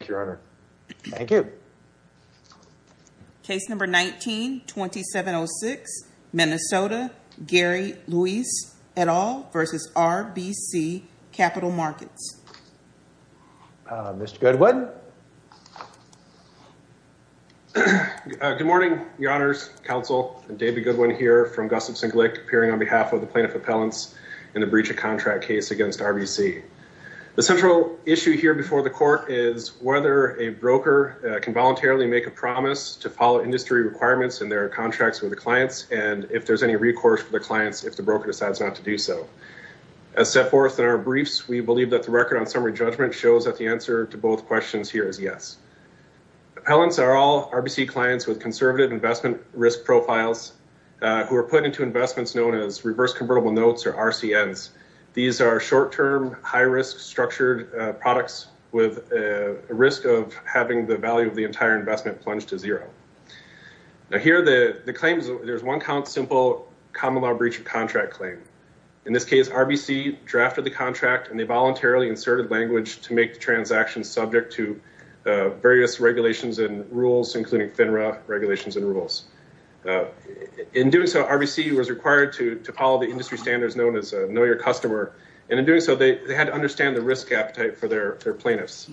Thank you. Case number 19-2706, Minnesota, Gary Luis et al. v. RBC Capital Markets. Mr. Goodwin. Good morning, your honors, counsel. David Goodwin here from Gossips & Glick appearing on behalf of the plaintiff appellants in the breach of contract case against RBC. The central issue here before the court is whether a broker can voluntarily make a promise to follow industry requirements in their contracts with the clients and if there's any recourse for the clients if the broker decides not to do so. As set forth in our briefs, we believe that the record on summary judgment shows that the answer to both questions here is yes. Appellants are all RBC clients with conservative investment risk profiles who are put into investments known as reverse convertible notes or RCNs. These are short-term, high-risk structured products with a risk of having the value of the entire investment plunged to zero. Now here the claims, there's one count simple common law breach of contract claim. In this case, RBC drafted the contract and they voluntarily inserted language to make the transaction subject to various regulations and rules including FINRA regulations and rules. In doing so, RBC was required to follow the industry standards known as a know your customer and in doing so they had to understand the risk appetite for their plaintiffs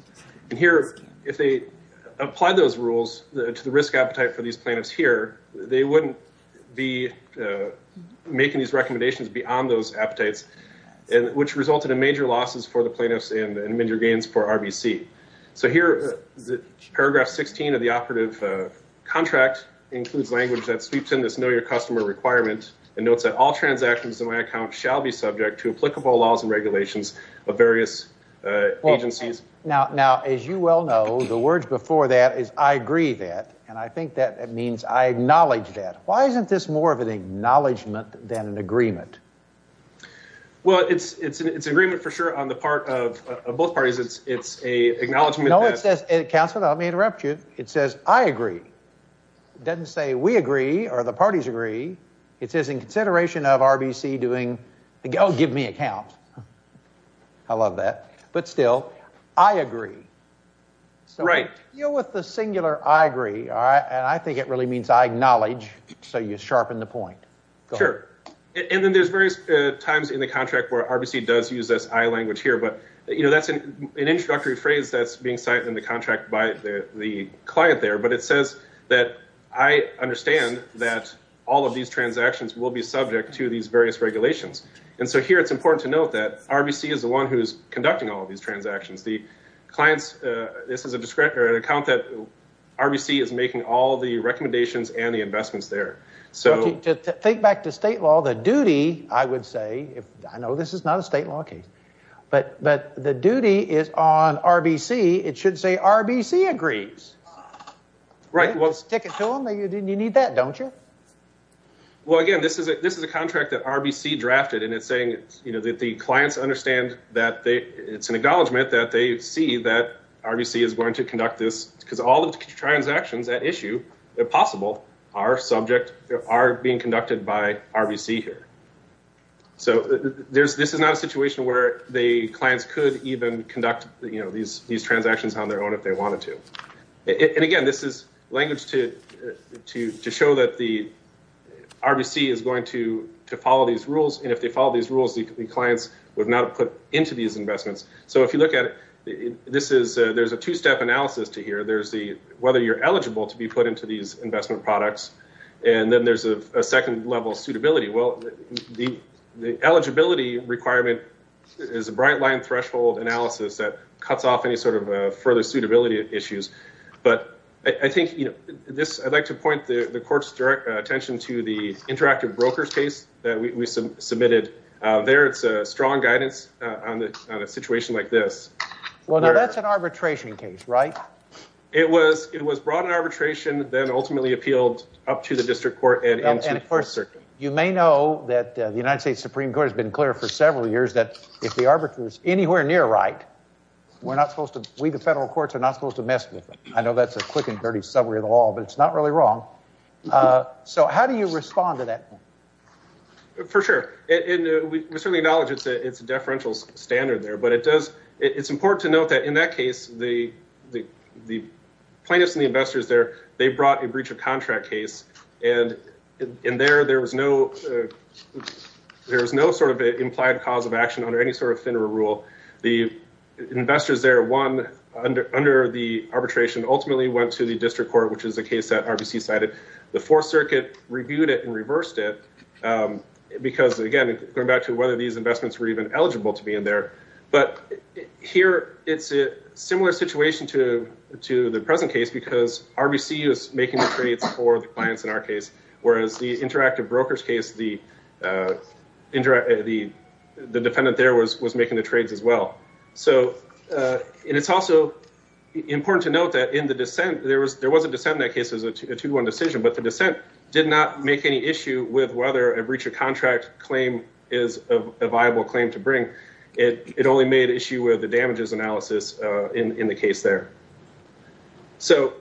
and here if they apply those rules to the risk appetite for these plaintiffs here, they wouldn't be making these recommendations beyond those appetites and which resulted in major losses for the plaintiffs and major gains for RBC. So here is paragraph 16 of the operative contract includes language that sweeps in this know your customer requirement and notes that all transactions in my account shall be subject to applicable laws and regulations of various agencies. Now as you well know the words before that is I agree that and I think that it means I acknowledge that. Why isn't this more of an acknowledgement than an agreement? Well it's an agreement for sure on the part of both parties. It's a acknowledgement. No it says counsel let me interrupt you. It says I agree. It doesn't say we agree or the parties agree. It says in consideration of RBC doing oh give me a count. I love that but still I agree. So deal with the singular I agree all right and I think it really means I acknowledge so you sharpen the point. Sure and then there's various times in the contract where RBC does use this I language here but you know that's an introductory phrase that's being cited in the contract by the client there but it says that I understand that all of these transactions will be subject to these various regulations and so here it's important to note that RBC is the one who's conducting all these transactions. The clients this is a descriptor an account that RBC is making all the recommendations and the investments there. So to think back to state law the duty I would say if I know this is not a state law case but the duty is on RBC it should say RBC agrees. Right well stick it to them you need that don't you? Well again this is a contract that RBC drafted and it's saying you know that the clients understand that they it's an acknowledgement that they see that RBC is going to conduct this because all the transactions at issue possible are subject are being conducted by RBC here. So there's this is not a situation where the clients could even conduct you know these these transactions on their own if they wanted to. And again this is language to to to show that the RBC is going to to follow these rules and if they follow these rules the clients would not put into these investments. So if you look at it this is there's a two-step analysis to here there's the whether you're eligible to be put into these investment products and then there's a second level suitability well the the eligibility requirement is a bright line threshold analysis that cuts off any sort of further suitability issues. But I think you know this I'd like to point the court's direct attention to the interactive brokers case that we submitted there it's a strong guidance on the situation like this. Well now that's an arbitration case right? It was it was brought in arbitration ultimately appealed up to the district court and of course you may know that the United States Supreme Court has been clear for several years that if the arbiters anywhere near right we're not supposed to we the federal courts are not supposed to mess with them. I know that's a quick and dirty summary of the law but it's not really wrong. So how do you respond to that? For sure and we certainly acknowledge it's a it's a deferential standard there but it does it's important to note that in that case the the plaintiffs and the investors there they brought a breach of contract case and in there there was no there was no sort of implied cause of action under any sort of FINRA rule. The investors there won under under the arbitration ultimately went to the district court which is the case that RBC cited. The fourth circuit reviewed it and reversed it because again going back to whether these investments were even eligible to be in there. But here it's a similar situation to to the present case because RBC is making the trades for the clients in our case whereas the interactive brokers case the interact the the defendant there was was making the trades as well. So and it's also important to note that in the dissent there was there was a dissent in that case as a 2-1 decision but the dissent did not make any issue with whether a breach of contract claim is a viable claim to it only made issue with the damages analysis in in the case there. So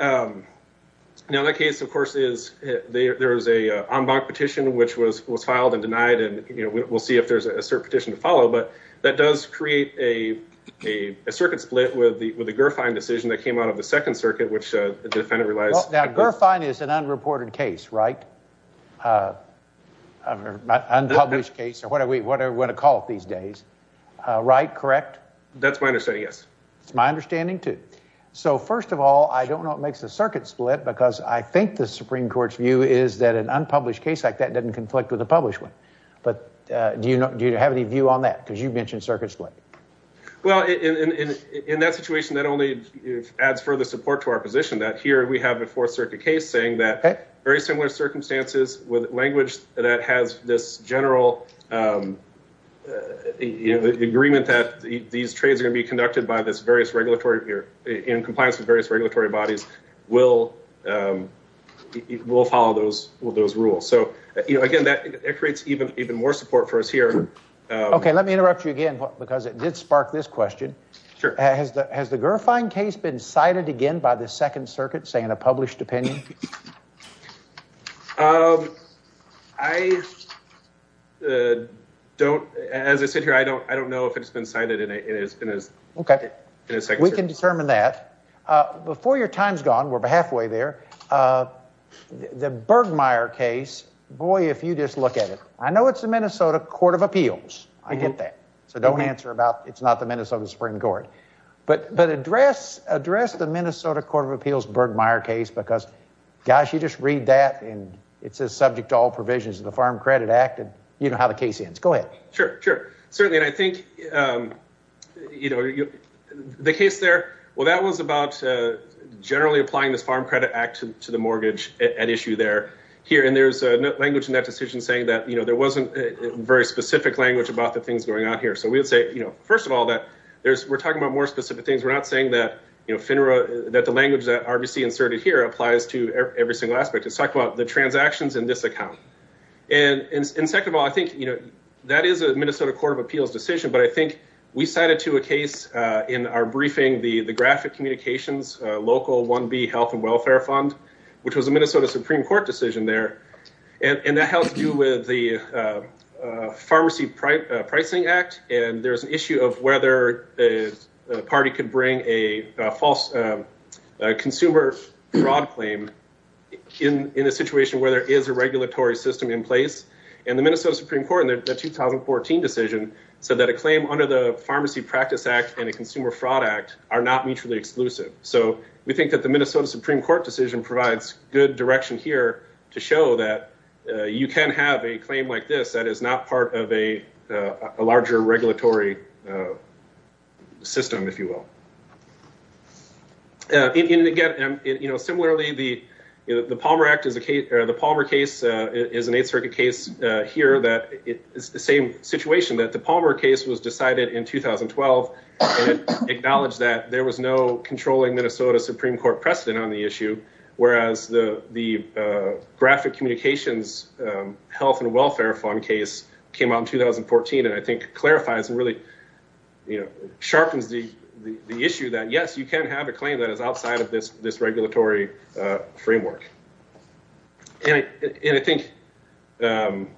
now that case of course is there is a en banc petition which was was filed and denied and you know we'll see if there's a cert petition to follow but that does create a a circuit split with the with the GERFINE decision that came out of the second circuit which the defendant realized. Now GERFINE is an unreported case right? Unpublished case or whatever we want to call it these days. Right? Correct? That's my understanding yes. It's my understanding too. So first of all I don't know what makes the circuit split because I think the Supreme Court's view is that an unpublished case like that doesn't conflict with a published one but do you know do you have any view on that because you mentioned circuit split? Well in in in that situation that only adds further support to our position that here we have a fourth circuit case saying that very similar circumstances with language that has this general you know the agreement that these trades are going to be conducted by this various regulatory in compliance with various regulatory bodies will follow those rules. So you know again that it creates even even more support for us here. Okay let me interrupt you again because it did spark this question. Sure. Has the GERFINE case been cited again by the second circuit say in a published opinion? I don't as I sit here I don't I don't know if it's been cited in it's been as okay in a second. We can determine that. Before your time's gone we're halfway there. The Bergmeier case boy if you just look at it I know it's the Minnesota Court of Appeals. I get that. So don't answer about it's not the Minnesota Supreme Court but but address address the Minnesota Court of Appeals Bergmeier case because gosh you just read that and it says subject to all provisions of the Farm Credit Act and you know how the case ends. Go ahead. Sure sure certainly and I think you know the case there well that was about generally applying this Farm Credit Act to the mortgage at issue there here and there's a language in that decision saying that you know there wasn't a very specific language about the things going on here. So we would say you know first of all that there's we're talking about more specific things we're not saying that that the language that RBC inserted here applies to every single aspect. It's talking about the transactions in this account and and second of all I think you know that is a Minnesota Court of Appeals decision but I think we cited to a case in our briefing the the graphic communications local 1b health and welfare fund which was a Minnesota Supreme Court decision there and and that has to do with the pharmacy pricing act and there's an issue of whether a party could bring a false consumer fraud claim in in a situation where there is a regulatory system in place and the Minnesota Supreme Court in the 2014 decision said that a claim under the pharmacy practice act and a consumer fraud act are not mutually exclusive. So we think that the Minnesota Supreme Court decision provides good direction here to show that you can have a claim like this that is not part of a larger regulatory system if you will. And again you know similarly the Palmer Act is a case or the Palmer case is an Eighth Circuit case here that it is the same situation that the Palmer case was decided in 2012 and acknowledged that there was no controlling Minnesota Supreme Court precedent on the issue whereas the the graphic communications health and welfare fund case came out in 2014 and I think clarifies and really you know sharpens the the issue that yes you can have a claim that is outside of this this regulatory framework. And I think going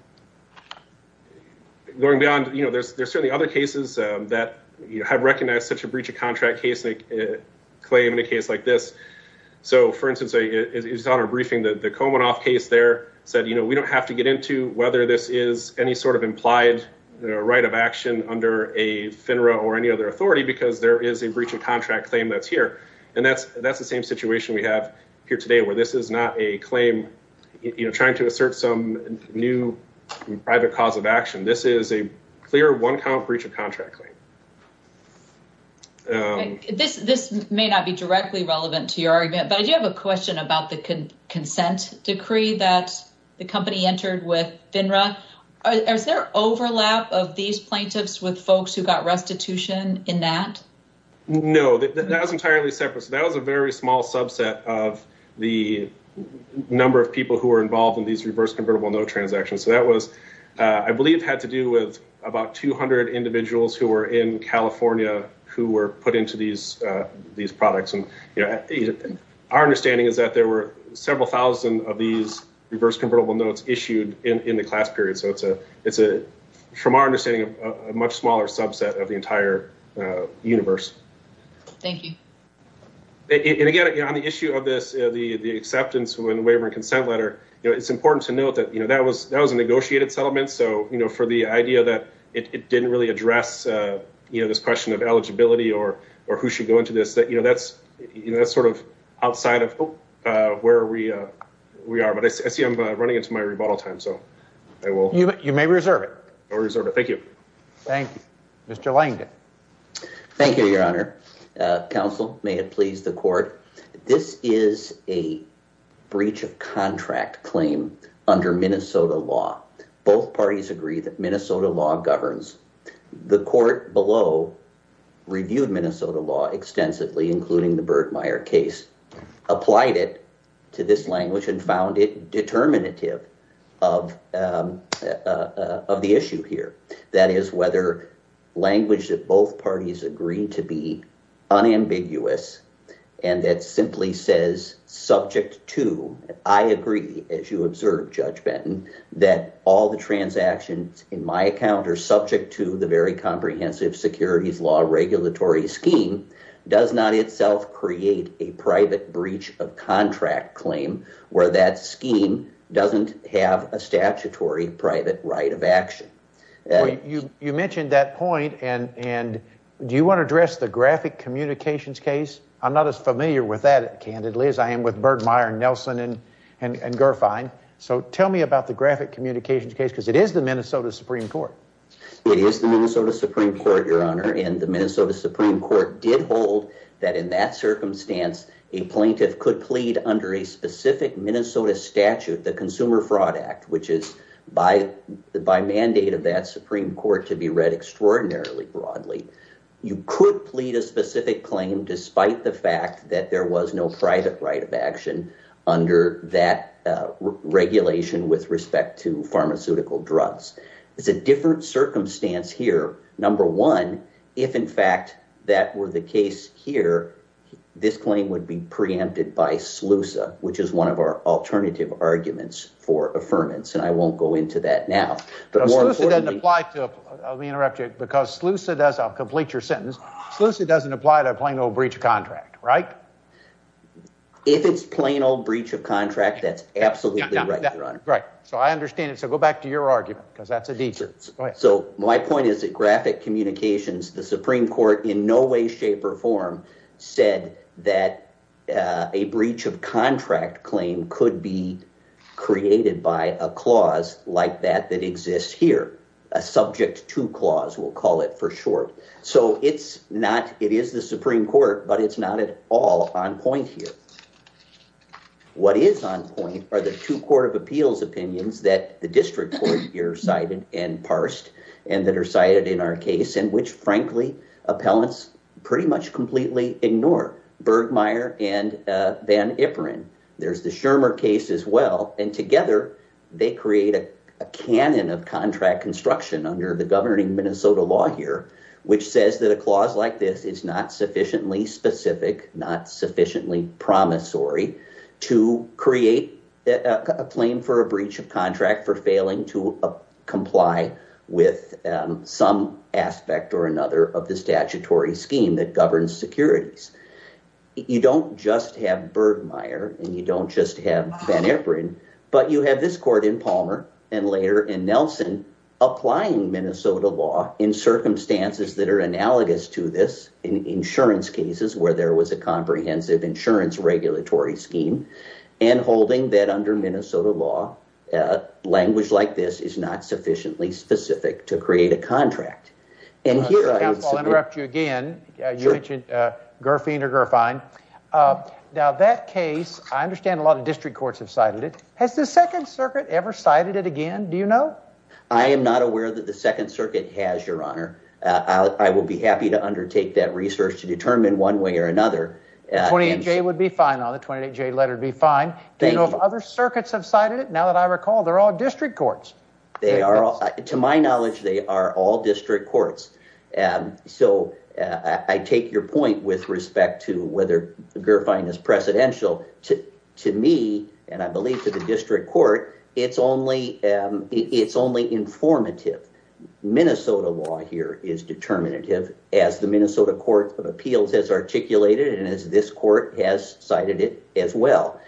beyond you know there's there's certainly other cases that you have recognized such a breach of contract case they claim in a case like this. So for instance it's on our briefing that the Komanoff case there said you know we don't have to get into whether this is any sort of implied right of action under a FINRA or any other authority because there is a breach of contract claim that's here and that's that's the same situation we have here today where this is not a claim you know trying to assert some new private cause of action this is a clear one count breach of contract claim. This this may not be directly relevant to your argument but I do have a question about the consent decree that the company entered with FINRA. Is there overlap of these plaintiffs with folks who got restitution in that? No that was entirely separate so that was a very small subset of the number of people who were involved in these reverse convertible no transactions so that was I believe had to do with about 200 individuals who were in California who put into these these products and you know our understanding is that there were several thousand of these reverse convertible notes issued in in the class period so it's a it's a from our understanding a much smaller subset of the entire universe. Thank you. And again on the issue of this the the acceptance when the waiver and consent letter you know it's important to note that you know that was that was a negotiated settlement so you know for the idea that it didn't really address you know this question of eligibility or or who should go into this that you know that's you know that's sort of outside of where we we are but I see I'm running into my rebuttal time so I will. You may reserve it. I'll reserve it. Thank you. Thank you. Mr. Langdon. Thank you your honor. Counsel may it please the court this is a breach of contract claim under Minnesota law. Both parties agree that Minnesota law governs the court below reviewed Minnesota law extensively including the Birdmeier case applied it to this language and found it determinative of of the issue here that is whether language that both parties agree to be unambiguous and that simply says subject to I agree as you observe Judge Benton that all the transactions in my account are subject to the very comprehensive securities law regulatory scheme does not itself create a private breach of contract claim where that scheme doesn't have a statutory private right of action. You mentioned that point and and do you want to address the graphic communications case? I'm not as familiar with that candidly as I am with Birdmeier and Nelson and and and Gerfine so tell me about the graphic communications case because it is the Minnesota Supreme Court. It is the Minnesota Supreme Court your honor and the Minnesota Supreme Court did hold that in that circumstance a plaintiff could plead under a specific Minnesota statute the Consumer Fraud Act which is by the by mandate of that Supreme Court to be read extraordinarily broadly. You could plead a specific claim despite the fact that there was no private right of action under that regulation with respect to pharmaceutical drugs. It's a different circumstance here number one if in fact that were the case here this claim would be preempted by SLUSA which is one of our alternative arguments for affirmance and I won't go into that now. SLUSA doesn't apply to, let me interrupt you, because SLUSA does, I'll complete your sentence, SLUSA doesn't apply to a plain old breach of contract right? If it's plain old breach of contract that's absolutely right your honor. Right so I understand it so go back to your argument because that's a detour. So my point is that graphic communications the Supreme Court in no way shape or form said that a breach of contract claim could be created by a clause like that that exists here. A subject to clause we'll call it for short. So it's not it is the Supreme Court but it's not at all on point here. What is on point are the two court of appeals opinions that the district court here cited and parsed and that are cited in our case and which frankly appellants pretty much completely ignore. Bergmeier and Van Iperen. There's the Shermer case as well and they create a canon of contract construction under the governing Minnesota law here which says that a clause like this is not sufficiently specific, not sufficiently promissory to create a claim for a breach of contract for failing to comply with some aspect or another of the statutory scheme that governs securities. You don't just have Bergmeier and you don't just have Van Iperen but you have this court in Palmer and later in Nelson applying Minnesota law in circumstances that are analogous to this in insurance cases where there was a comprehensive insurance regulatory scheme and holding that under Minnesota law a language like this is not sufficiently specific to create a contract. And here I interrupt you again you mentioned Gerfine. Now that case I have cited it. Has the second circuit ever cited it again? Do you know? I am not aware that the second circuit has your honor. I will be happy to undertake that research to determine one way or another. 28J would be fine on the 28J letter would be fine. Do you know if other circuits have cited it? Now that I recall they're all district courts. They are all to my knowledge they are all district courts. So I take your point with respect to whether Gerfine is precedential to me and I believe to the district court it's only informative. Minnesota law here is determinative as the Minnesota Court of Appeals has articulated and as this court has cited it as well.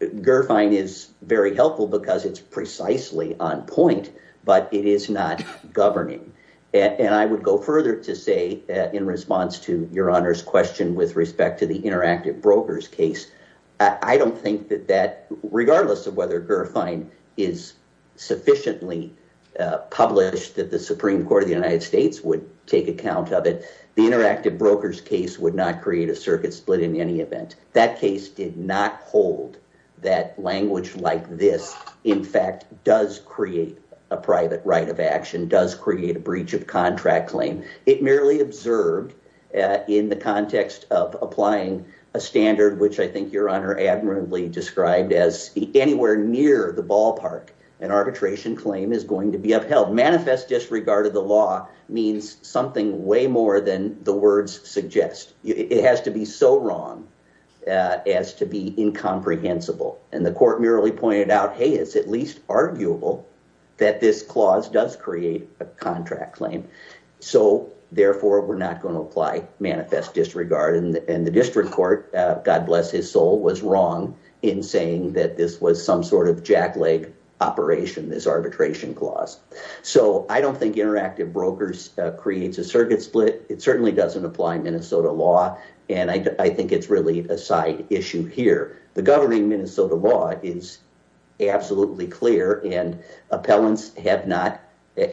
Gerfine is very helpful because it's precisely on point but it is not governing. And I would go further to say in response to your honor's question with respect to the interactive brokers case. I don't think that that regardless of whether Gerfine is sufficiently published that the Supreme Court of the United States would take account of it. The interactive brokers case would not hold that language like this in fact does create a private right of action does create a breach of contract claim. It merely observed in the context of applying a standard which I think your honor admirably described as anywhere near the ballpark an arbitration claim is going to be upheld. Manifest disregard of the law means something way more than the words suggest. It has to be so wrong as to be incomprehensible. And the court merely pointed out hey it's at least arguable that this clause does create a contract claim. So therefore we're not going to apply manifest disregard and the district court God bless his soul was wrong in saying that this was some sort of jack leg operation this arbitration clause. So I don't think interactive brokers creates a circuit split. It certainly doesn't apply Minnesota law and I think it's really a side issue here. The governing Minnesota law is absolutely clear and appellants have not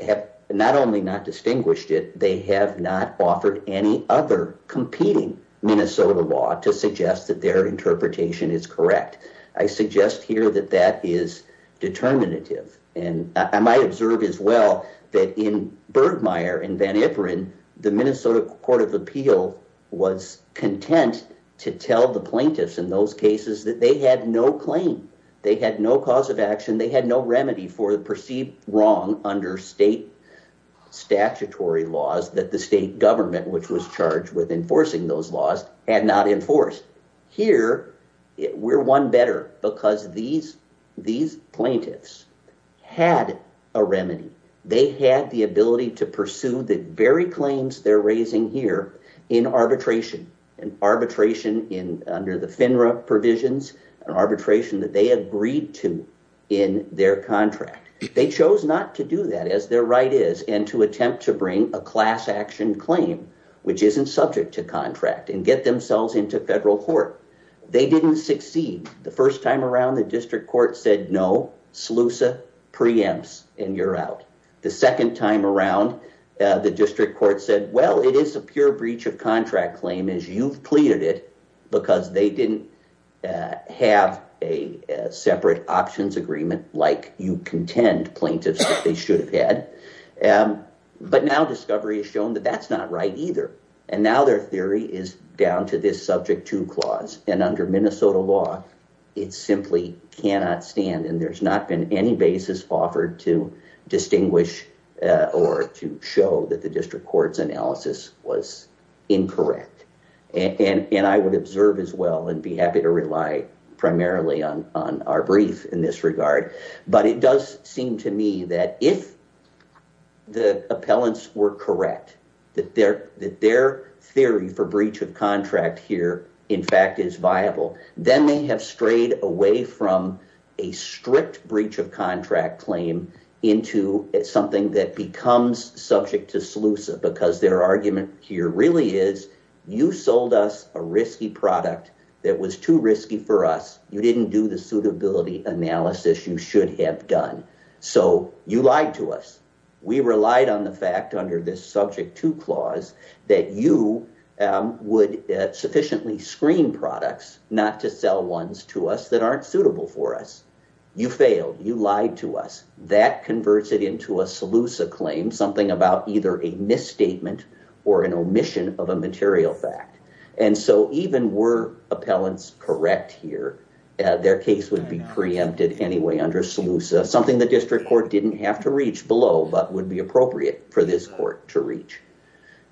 have not only not distinguished it. They have not offered any other competing Minnesota law to suggest that their interpretation is correct. I suggest here that that is determinative and I might observe as well that in Bergmayer in Van Iperen the Minnesota Court of Appeal was content to tell the plaintiffs in those cases that they had no claim. They had no cause of action. They had no remedy for the perceived wrong under state statutory laws that the state government which was charged with enforcing those laws had not enforced. Here we're one better because these these plaintiffs had a remedy. They had the ability to pursue the very claims they're raising here in arbitration and arbitration in under the FINRA provisions and arbitration that they agreed to in their contract. They chose not to do that as their right is and to attempt to bring a class action claim which isn't subject to contract and get themselves into federal court. They didn't succeed. The first time around the district court said no SLUSA preempts and you're out. The second time around the district court said well it is a pure breach of contract claim as you've pleaded it because they didn't have a separate options agreement like you contend plaintiffs that they should have had. But now discovery has shown that that's not right either and now their theory is down to this subject to clause and under Minnesota law it simply cannot stand and there's not been any basis offered to distinguish or to show that the district court's analysis was incorrect and I would observe as well and be happy to rely primarily on on our brief in this regard but it does seem to me that if the appellants were correct that their that their theory for breach of contract here in fact is viable then they have strayed away from a strict breach of contract claim into something that becomes subject to SLUSA because their argument here really is you sold us a risky product that was too risky for us. You didn't do the suitability analysis you should have done so you lied to us. We relied on the fact under this subject to clause that you would sufficiently screen products not to sell ones to us that aren't suitable for us. You failed you lied to us that converts it into a SLUSA claim something about either a misstatement or an omission of a material fact and so even were appellants correct here their case would be preempted anyway under SLUSA something the district court didn't have to reach below but would be appropriate for this court to reach.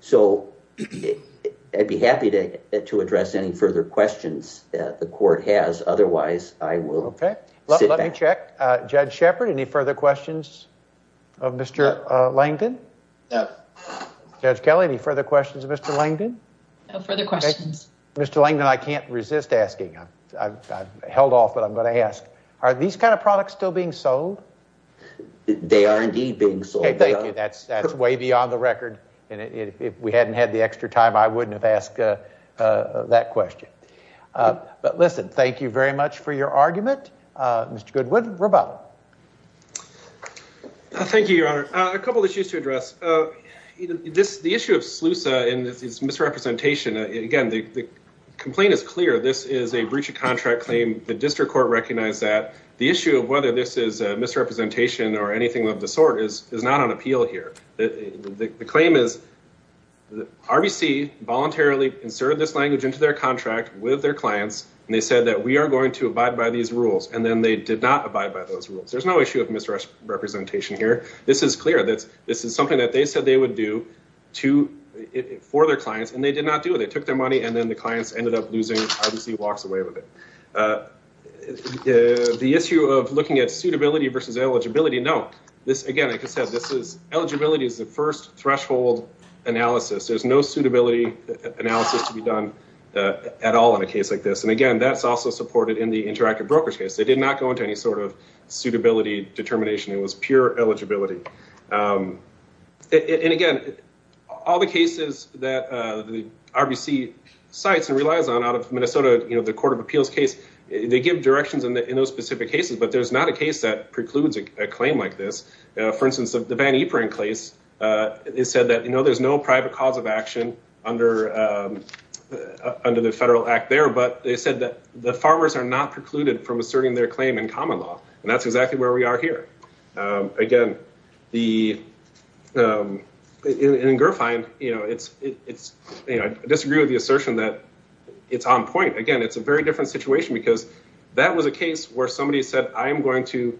So I'd be happy to to address any further questions that the court has otherwise I will. Okay let me check uh Judge Shepard any further questions of Mr. Langdon? Judge Kelly any further questions of Mr. Langdon? No further questions. Mr. Langdon I can't resist asking I've held off but I'm going to ask are these kind of products still being sold? They are indeed being sold. Thank you that's that's way beyond the record and if we hadn't had the extra time I wouldn't have asked that question. But listen thank you very much for your argument uh Mr. Goodwood rebuttal. Thank you your honor a couple issues to address uh this the issue of SLUSA and this misrepresentation again the the complaint is clear this is a breach of contract claim the district court recognized that the issue of whether this is a misrepresentation or anything of the sort is is not on appeal here the the claim is the RBC voluntarily inserted this language into their contract with their clients and they said that we are going to abide by these rules and then they did not abide by those rules there's no issue of misrepresentation here this is clear that's this is something that they said they would do to for their clients and they did not do it they took their money and then the clients ended up losing RBC walks away with it uh the issue of looking at suitability versus eligibility no this again like I said this is eligibility is the first threshold analysis there's no suitability analysis to be done at all in a case like this and again that's also supported in the interactive brokers case they did not go into any sort of suitability determination it was pure eligibility um and again all the cases that uh the RBC cites and relies on out of Minnesota you know the court of appeals case they give directions in those specific cases but there's not a case that precludes a claim like this for instance the Van Eperin case uh it said that you know there's no private cause of action under um under the federal act there but they said that the farmers are not precluded from asserting their claim in common law and that's exactly where we are here um again the um in Girfine you know it's it's you know I disagree with the assertion that it's on point again it's a very different situation because that was a case where somebody said I'm going to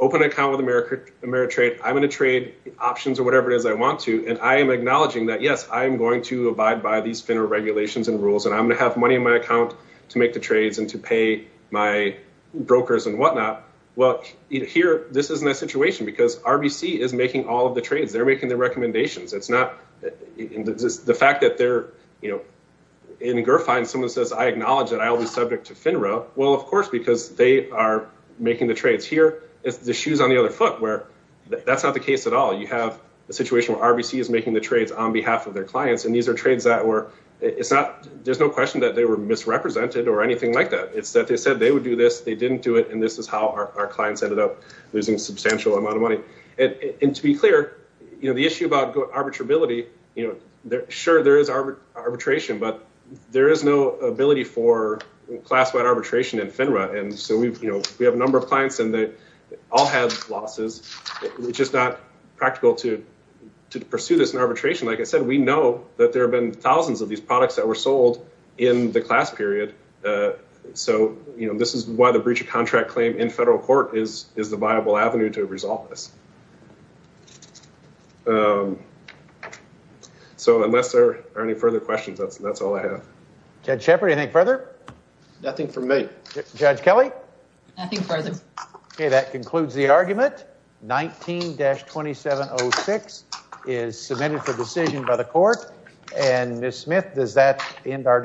open an account with America Ameritrade I'm going to trade options or whatever it is I want to and I am acknowledging that yes I am going to abide by these FINRA regulations and rules and I'm going to have money in my account to make the trades and to pay my brokers and well here this isn't a situation because RBC is making all of the trades they're making their recommendations it's not the fact that they're you know in Girfine someone says I acknowledge that I'll be subject to FINRA well of course because they are making the trades here it's the shoes on the other foot where that's not the case at all you have a situation where RBC is making the trades on behalf of their clients and these are trades that were it's not there's no question that they were misrepresented or anything like that it's that they said they would do this they didn't do it and this is how our clients ended up losing a substantial amount of money and to be clear you know the issue about arbitrability you know they're sure there is arbitration but there is no ability for class-wide arbitration in FINRA and so we've you know we have a number of clients and they all have losses it's just not practical to to pursue this in arbitration like I said we know that there have been thousands of these products that were sold in the class period uh so you know this is why the breach of contract claim in federal court is is the viable avenue to resolve this um so unless there are any further questions that's that's all I have. Judge Shepard anything further? Nothing from me. Judge Kelly? Nothing further. Okay that concludes the argument 19-2706 is submitted for decision by the court and Miss Smith does that end our